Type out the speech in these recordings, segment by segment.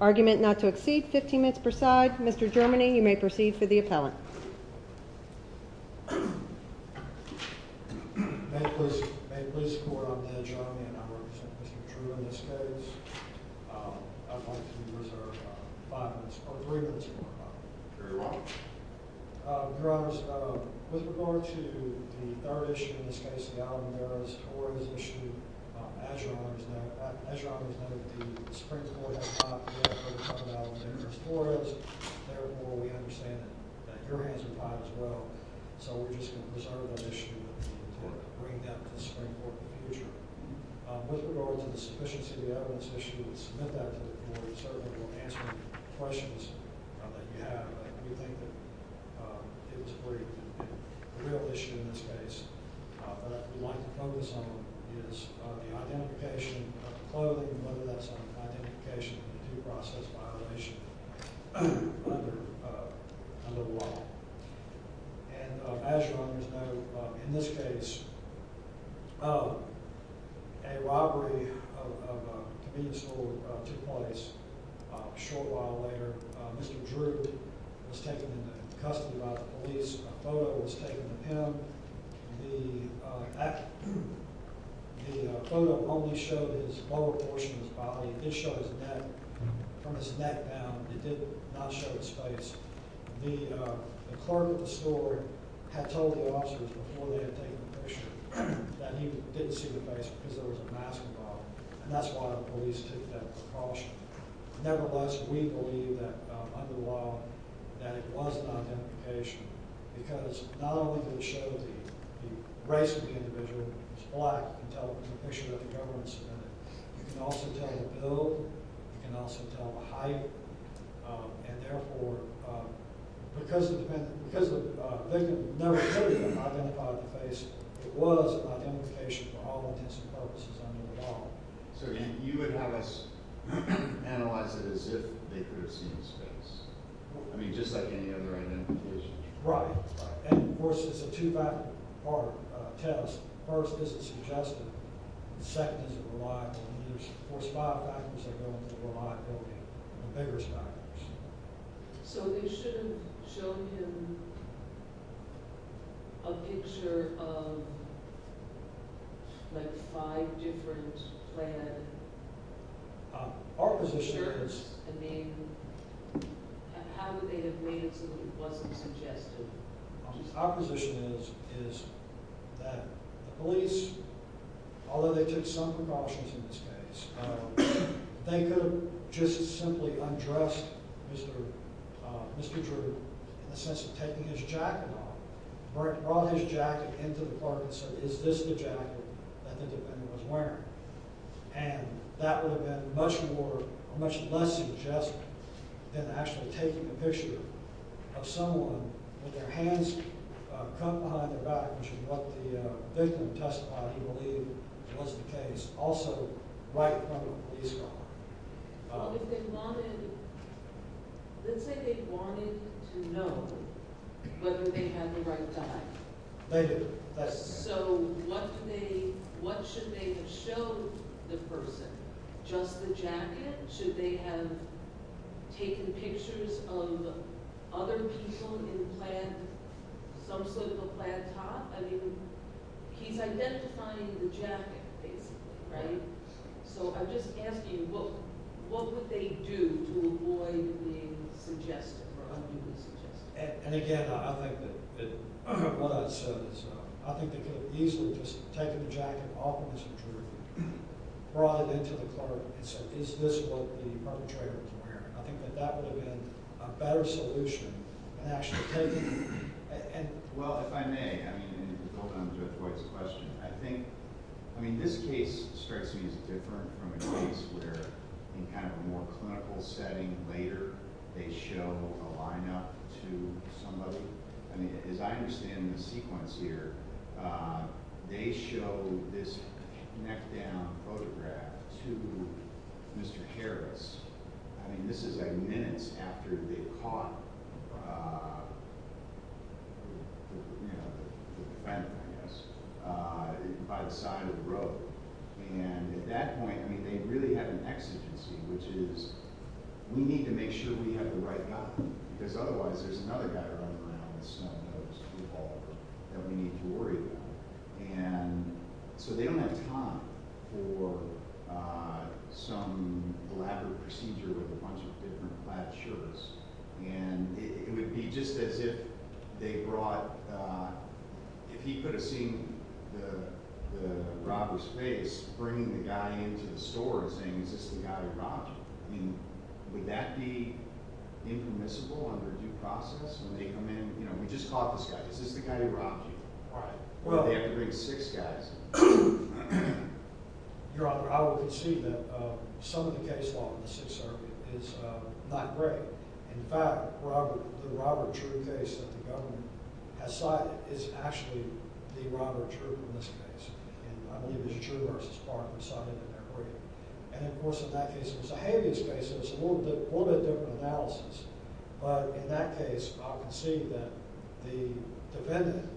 Argument not to exceed 15 minutes per side. Mr. Germany, you may proceed for the appellant. May it please the court, I'm Dan Jarmian. I represent Mr. Drew in this case. I'd like to reserve five minutes, or three minutes, if you prefer. Very well. I'm going to issue the third issue, in this case, the alimony errors. As your honor has noted, the Supreme Court has not yet put a covenant on alimony errors for us. Therefore, we understand that your hands are tied as well. So we're just going to preserve that issue and bring that to the Supreme Court in the future. With regard to the sufficiency of the evidence issue, we would submit that to the court. We certainly will answer the questions that you have. We think that it is a real issue in this case. What I would like to focus on is the identification of clothing, whether that's an identification of a due process violation under the law. As your honors know, in this case, a robbery of a convenience store took place a short while later. Mr. Drew was taken into custody by the police. A photo was taken of him. The photo only showed his lower portion of his body. It did show his neck. From his neck down, it did not show his face. The clerk at the store had told the officers before they had taken the picture that he didn't see the face because there was a mask involved. That's why the police took that precaution. Nevertheless, we believe that under the law that it was an identification because not only did it show the race of the individual, who was black, you can also tell the build, you can also tell the height. Therefore, because they never clearly identified the face, it was an identification for all intents and purposes under the law. You would have us analyze it as if they could have seen his face, just like any other identification? Right, and of course, it's a two-factor test. First, is it suggestive? Second, is it reliable? Of course, five factors are going to be reliable, the biggest factors. So they shouldn't have shown him a picture of like five different planned shirts? I mean, how would they have made it so that it wasn't suggestive? Our position is that the police, although they took some precautions in this case, they could have just simply undressed Mr. Drew in the sense of taking his jacket off, brought his jacket into the clerk and said, is this the jacket that the defendant was wearing? And that would have been much less suggestive than actually taking a picture of someone with their hands crumpled behind their back, which is what the victim testified he believed was the case. Also, right in front of a police car. Let's say they wanted to know whether they had the right dive. So what should they have shown the person? Just the jacket? Should they have taken pictures of other people in some sort of a planned top? I mean, he's identifying the jacket, right? So I'm just asking you, what would they do to avoid being suggestive? And again, I think that what I said is I think they could have easily just taken the jacket off of Mr. Drew, brought it into the clerk and said, is this what the perpetrator was wearing? I think that that would have been a better solution than actually taking it. Well, if I may, this case strikes me as different from a case where in kind of a more clinical setting later they show a lineup to somebody. As I understand the sequence here, they show this neck down photograph to Mr. Harris. I mean, this is like minutes after they caught the defendant, I guess, by the side of the road. And at that point, I mean, they really have an exigency, which is we need to make sure we have the right guy because otherwise there's another guy running around with snub-nosed people that we need to worry about. And so they don't have time for some elaborate procedure with a bunch of different flat shirts. And it would be just as if they brought, if he could have seen the robber's face, bringing the guy into the store and saying, is this the guy who robbed you? I mean, would that be impermissible under due process? I mean, we just caught this guy. Is this the guy who robbed you? Well, they have to bring six guys. Your Honor, I would concede that some of the case law in the Sixth Circuit is not great. In fact, the Robert Drew case that the government has cited is actually the Robert Drew from this case. And I believe it's Drew v. Parker cited in their brief. And of course, in that case, it was a habeas case. It was a little bit different analysis. But in that case, I'll concede that the defendant,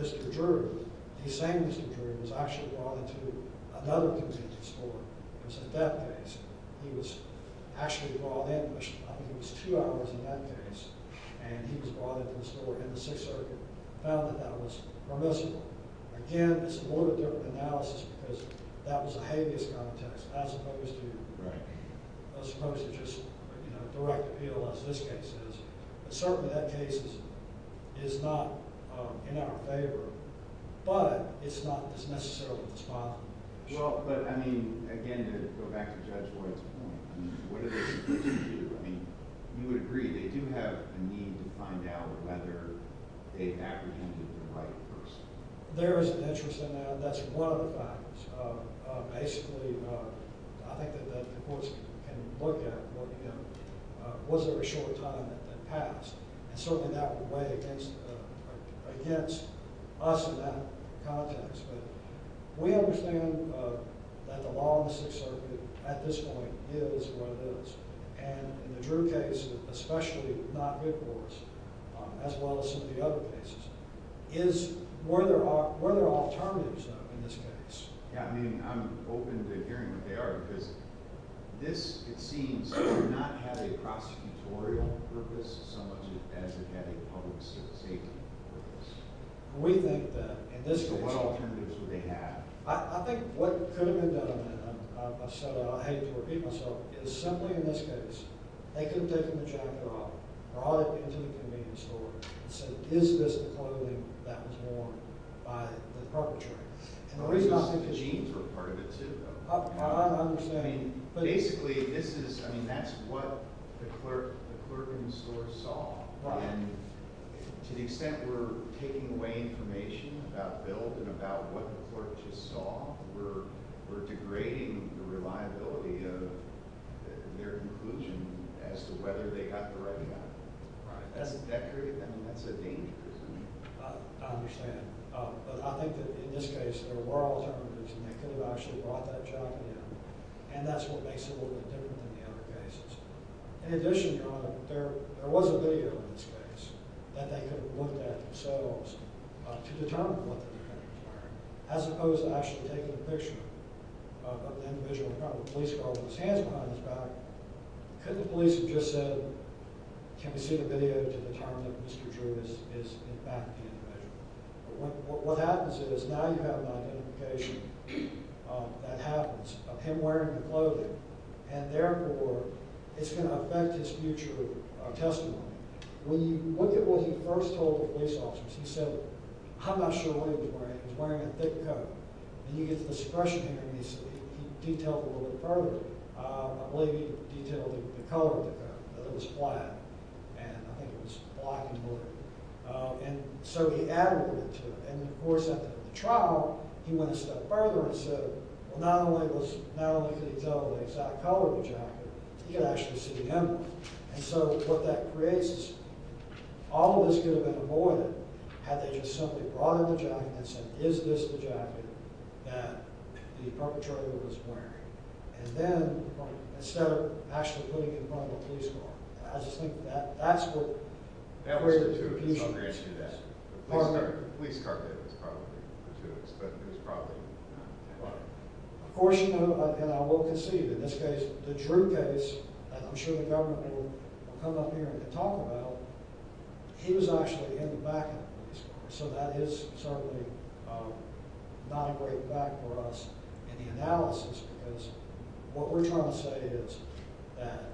Mr. Drew, he's saying Mr. Drew, was actually brought into another contingent store. It was a death case. He was actually brought in, which I think it was two hours in that case. And he was brought into the store in the Sixth Circuit, found that that was permissible. Again, it's a little different analysis, because that was a habeas context, as opposed to just direct appeal, as this case is. Certainly, that case is not in our favor, but it's not necessarily the spot. Well, but I mean, again, to go back to Judge Lloyd's point, what are they supposed to do? I mean, you would agree, they do have a need to find out whether they apprehended the right person. There is an interest in that. That's one of the factors. Basically, I think that the courts can look at, you know, was there a short time that passed? And certainly that would weigh against us in that context. But we understand that the law in the Sixth Circuit at this point is what it is. And in the Drew case, especially not mid-courts, as well as some of the other cases, were there alternatives in this case? Yeah, I mean, I'm open to hearing what they are, because this, it seems, did not have a prosecutorial purpose so much as it had a public safety purpose. We think that in this case... So what alternatives would they have? I think what could have been done, and I hate to repeat myself, is simply in this case, they could have taken the jacket off, brought it into the convenience store, and said, is this the clothing that was worn by the perpetrator? I mean, the jeans were part of it, too, though. I understand. Basically, this is, I mean, that's what the clerk in the store saw. And to the extent we're taking away information about Bill and about what the clerk just saw, we're degrading the reliability of their conclusion as to whether they got the right jacket. That's a danger, isn't it? I understand. But I think that in this case, there were alternatives, and they could have actually brought that jacket in. And that's what makes it a little bit different than the other cases. In addition, there was a video in this case that they could have looked at themselves to determine what the defendant was wearing, as opposed to actually taking a picture of the individual in front of the police car with his hands behind his back. Couldn't the police have just said, can we see the video to determine that Mr. Drew is, in fact, the individual? What happens is, now you have an identification that happens of him wearing the clothing. And therefore, it's going to affect his future testimony. When you look at what he first told the police officers, he said, I'm not sure what he was wearing. He was wearing a thick coat. And you get this expression underneath, he detailed it a little bit further. I believe he detailed the color of the coat. It was black, and I think it was black and blue. So he added a little bit to it. And of course, after the trial, he went a step further and said, not only could he tell the exact color of the jacket, he could actually see the emblem. And so what that creates is, all of this could have been avoided had they just simply brought in the jacket and said, is this the jacket that the perpetrator was wearing? And then, instead of actually putting it in front of the police car. I just think that's what created the confusion. Of course, you know, and I will concede, in this case, the Drew case, I'm sure the government will come up here and talk about, he was actually in the back of the police car. So that is certainly not a great back for us in the analysis, because what we're trying to say is that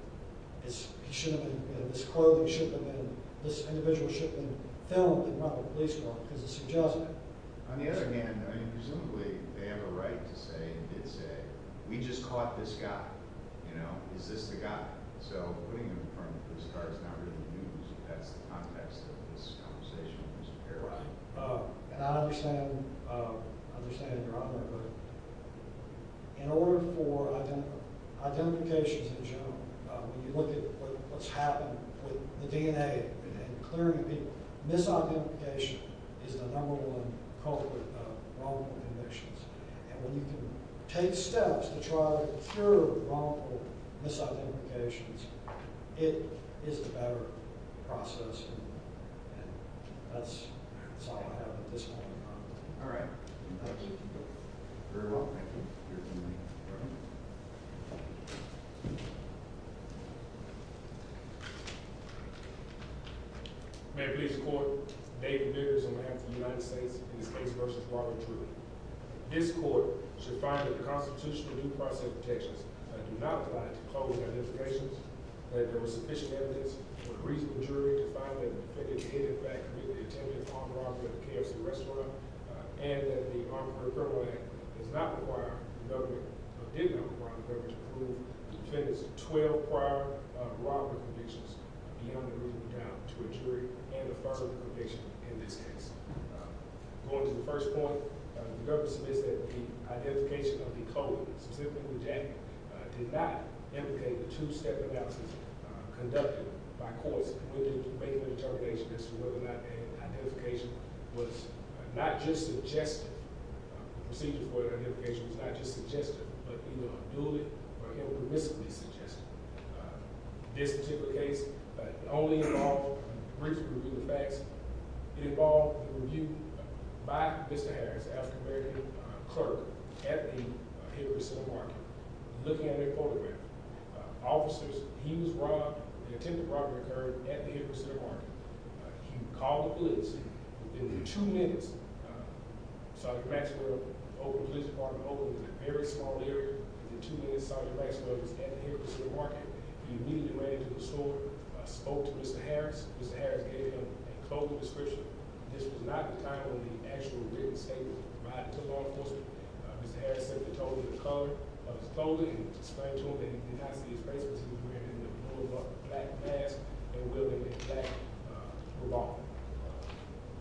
this clothing should have been, this individual should have been filmed in front of the police car, because it's a judgment. On the other hand, presumably, they have a right to say, we just caught this guy. You know, is this the guy? So putting him in front of the police car is not really news. That's the context of this conversation. And I understand your argument, but in order for identifications in general, when you look at what's happened with the DNA and clearing people, misidentification is the number one culprit of wrongful convictions. And when you can take steps to try to clear people, misidentifications, it is a better process. And that's all I have at this point in time. All right. Thank you. May it please the Court, David Biggers on behalf of the United States in this case versus Robert Drew. This court should find that the constitutional due process protections do not apply to clothing identifications, that there was sufficient evidence for the reasonable jury to find that the defendant did in fact commit the attempted armed robbery at the KFC restaurant, and that the Armored Criminal Act does not require the government, or did not require the government to prove the defendant's 12 prior robbery convictions beyond the reasonable doubt to a jury and affirm the conviction in this case. Going to the first point, the government submits that the identification of the culprit, specifically Jack, did not implicate the two-step analysis conducted by courts to make the determination as to whether or not an identification was not just suggestive, procedures for identification was not just suggestive, but either unduly or impermissibly suggestive. This particular case only involved a brief review of the facts. It involved a review by Mr. Harris, the African-American clerk at the Hickory Center Market, looking at a photograph. Officers, he was robbed, an attempted robbery occurred at the Hickory Center Market. He called the police. Within two minutes, Sergeant Maxwell was at the Hickory Center Market. He immediately ran into the store, spoke to Mr. Harris. Mr. Harris gave him a clothing description. This was not the kind of actual written statement provided to law enforcement. Mr. Harris simply told him the color of his clothing and explained to him that he did not see his face because he was wearing a black mask and wearing a black bra.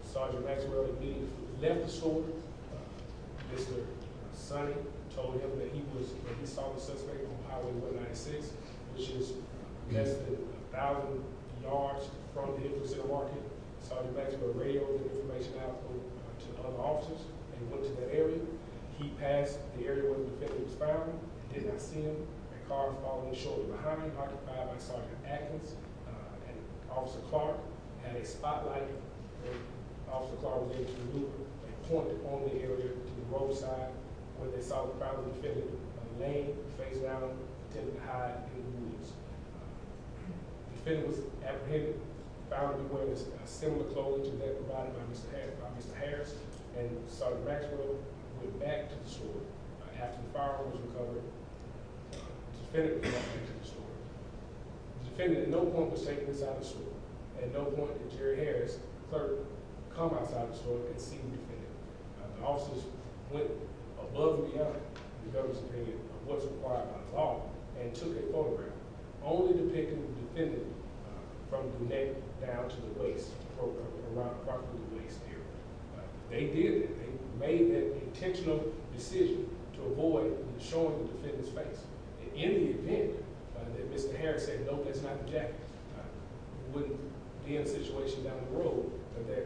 Sergeant Maxwell immediately left the store. Mr. Sonny told him that he saw the suspect on Highway 196, which is less than 1,000 yards from the Hickory Center Market. Sergeant Maxwell radioed the information out to other officers and went to that area. He passed the area where the defendant was found and did not see him. A car following shortly behind him, occupied by Sergeant Atkins and Officer Clark, had a spotlight where Officer Clark was able to look and point it on the area to the roadside where they saw the probably defendant laying face down attempting to hide in the woods. The defendant was apprehended, found to be wearing a similar clothing to that provided by Mr. Harris. Sergeant Maxwell went back to the store after the fire was recovered. The defendant did not enter the store. The defendant at no point was taken inside the store. At no point did Jerry Harris, the clerk, come outside the store and see the defendant. The officers went above and beyond the government's opinion of what was required by the law and took a photograph only depicting the defendant from the neck down to the waist around approximately the waist area. They did that. They made that intentional decision to avoid showing the defendant's face. In the event that Mr. Harris said, no, that's not the jacket, it wouldn't be a situation down the road that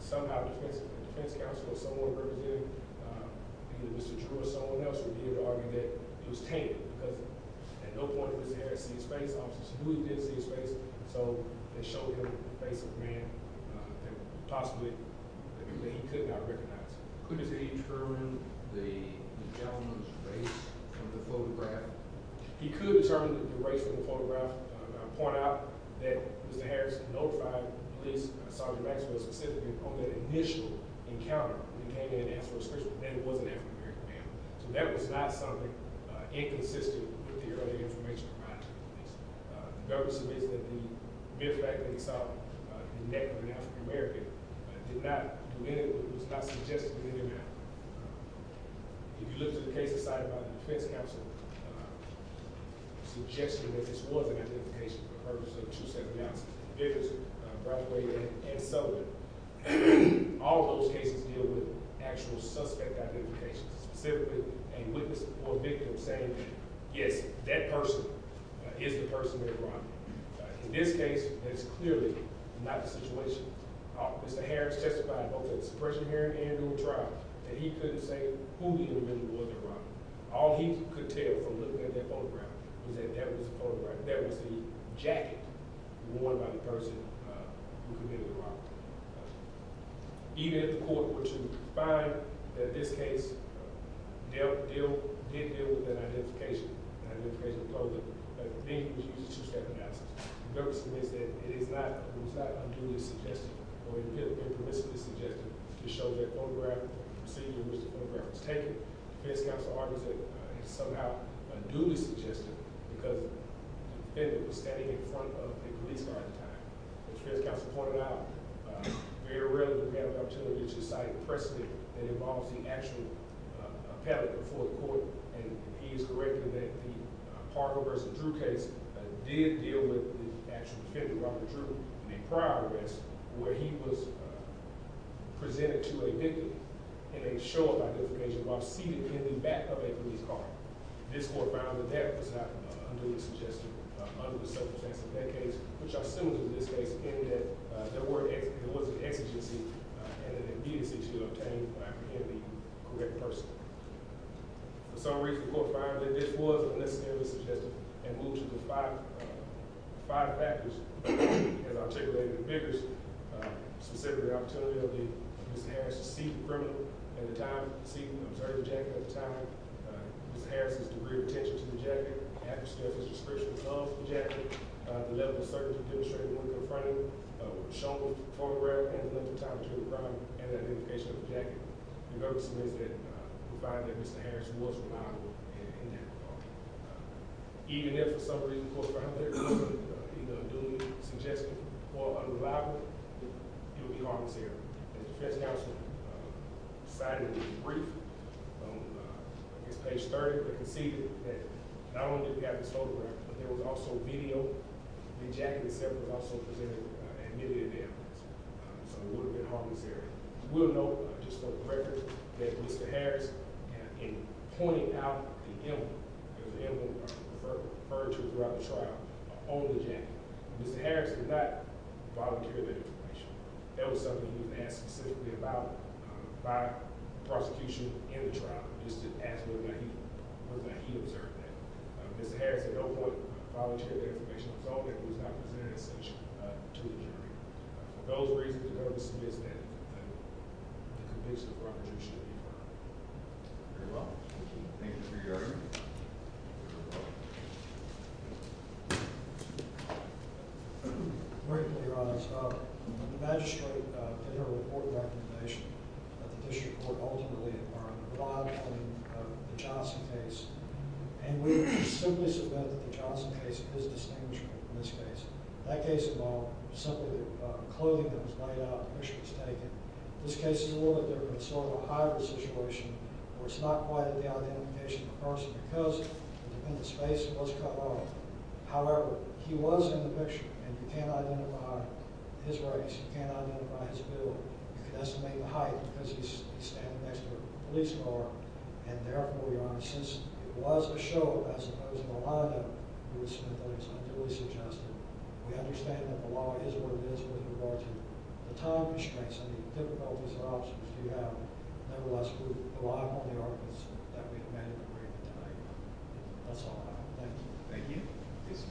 somehow the defense counsel or someone representing either Mr. Drew or someone else would be able to argue that it was tainted because at no point did Mr. Harris see his face. The officers knew he didn't see his face, so they showed him the face of a man that possibly he could not recognize. Could he determine the gentleman's race from the photograph? He could determine the race from the photograph. I'll point out that Mr. Harris notified police, Sergeant Maxwell specifically, on that initial encounter. He came in and asked for a search, but then it was an African-American man. So that was not something inconsistent with the earlier information provided to the police. The purpose of this is that the fact that he saw the neck of an African-American did not do anything, it was not suggested in any manner. If you look at the case decided by the defense counsel, suggesting that this was an identification for the purpose of two separate counts, Vickerson, Brathwaite, and Sullivan, all of those cases deal with actual suspect identification, specifically a witness or a victim saying that, yes, that person is the person that robbed him. In this case, that's clearly not the situation. Mr. Harris testified both in the suppression hearing and in the trial that he couldn't say who he really was that robbed him. All he could tell from looking at that photograph was that that was the jacket worn by the person who committed the robbery. Even if the court were to find that this case did deal with that identification and identification of clothing, I think it was used as two separate answers. Vickerson said it is not unduly suggested or impermissibly suggested to show that photograph or procedure in which the photograph was taken. The defense counsel argues that it is somehow unduly suggested because the defendant was standing in front of a police guard at the time. As the defense counsel pointed out, very rarely do we have an opportunity to cite precedent that involves the actual appellate before the court. And he is correct in that the Hargrove v. Drew case did deal with the actual defendant, Robert Drew, in a prior arrest where he was presented to a victim in a show of identification while seated in the back of a police car. This court found that that was not unduly suggested under the circumstances of that case, which are similar to this case in that there was an exigency and an immediacy to obtain and apprehend the correct person. For some reason, the court found that this was not unnecessarily suggested and moved to the five factors as articulated in Vickerson, specifically the opportunity for Mr. Harris to see the criminal at the time, see and observe the jacket at the time, Mr. Harris' degree of attention to the jacket, after Mr. Harris' description of the jacket, the level of certainty demonstrated when confronted with a shown photograph and the length of time between the crime and the identification of the jacket. In other words, we find that Mr. Harris was reliable in that regard. Even if, for some reason, the court found that it was either unduly suggested or unreliable, it would be harmless here. As the defense counsel cited in the brief on page 30, we can see that not only did we have this photograph, but there was also video. The jacket itself was also presented and admitted in the evidence, so it would have been harmless there. We'll note, just for the record, that Mr. Harris, in pointing out the emblem, the emblem referred to throughout the trial, on the jacket, Mr. Harris did not volunteer that information. That was something he was asked specifically about by the prosecution in the trial, just to ask whether or not he observed that. Mr. Harris at no point volunteered that information at all, and he was not presented in such a to the jury. For those reasons, the court has submitted the conviction for reproduction to the jury. Thank you for your time. Briefly, Your Honor, the magistrate put forward a court recommendation that the district court ultimately adjourn the trial after the Johnson case, and we simply submit that the Johnson case is distinguishable from this case. That case involved simply the clothing that was laid out and the picture was taken. This case is a little bit different. It's sort of a hybrid situation where it's not quite at the identification of the person because the defendant's face was cut off. However, he was in the picture, and you can't identify his race, you can't identify his build, you can't estimate the height because he's standing next to a police car, and therefore, Your Honor, since it was a show, as opposed to a wind-up, we understand that the law is what it is with regard to the time constraints and the difficulties and options we have. Nevertheless, we rely on the arguments that we have made in the briefing tonight. That's all I have. Thank you. Thank you. This case is adjourned.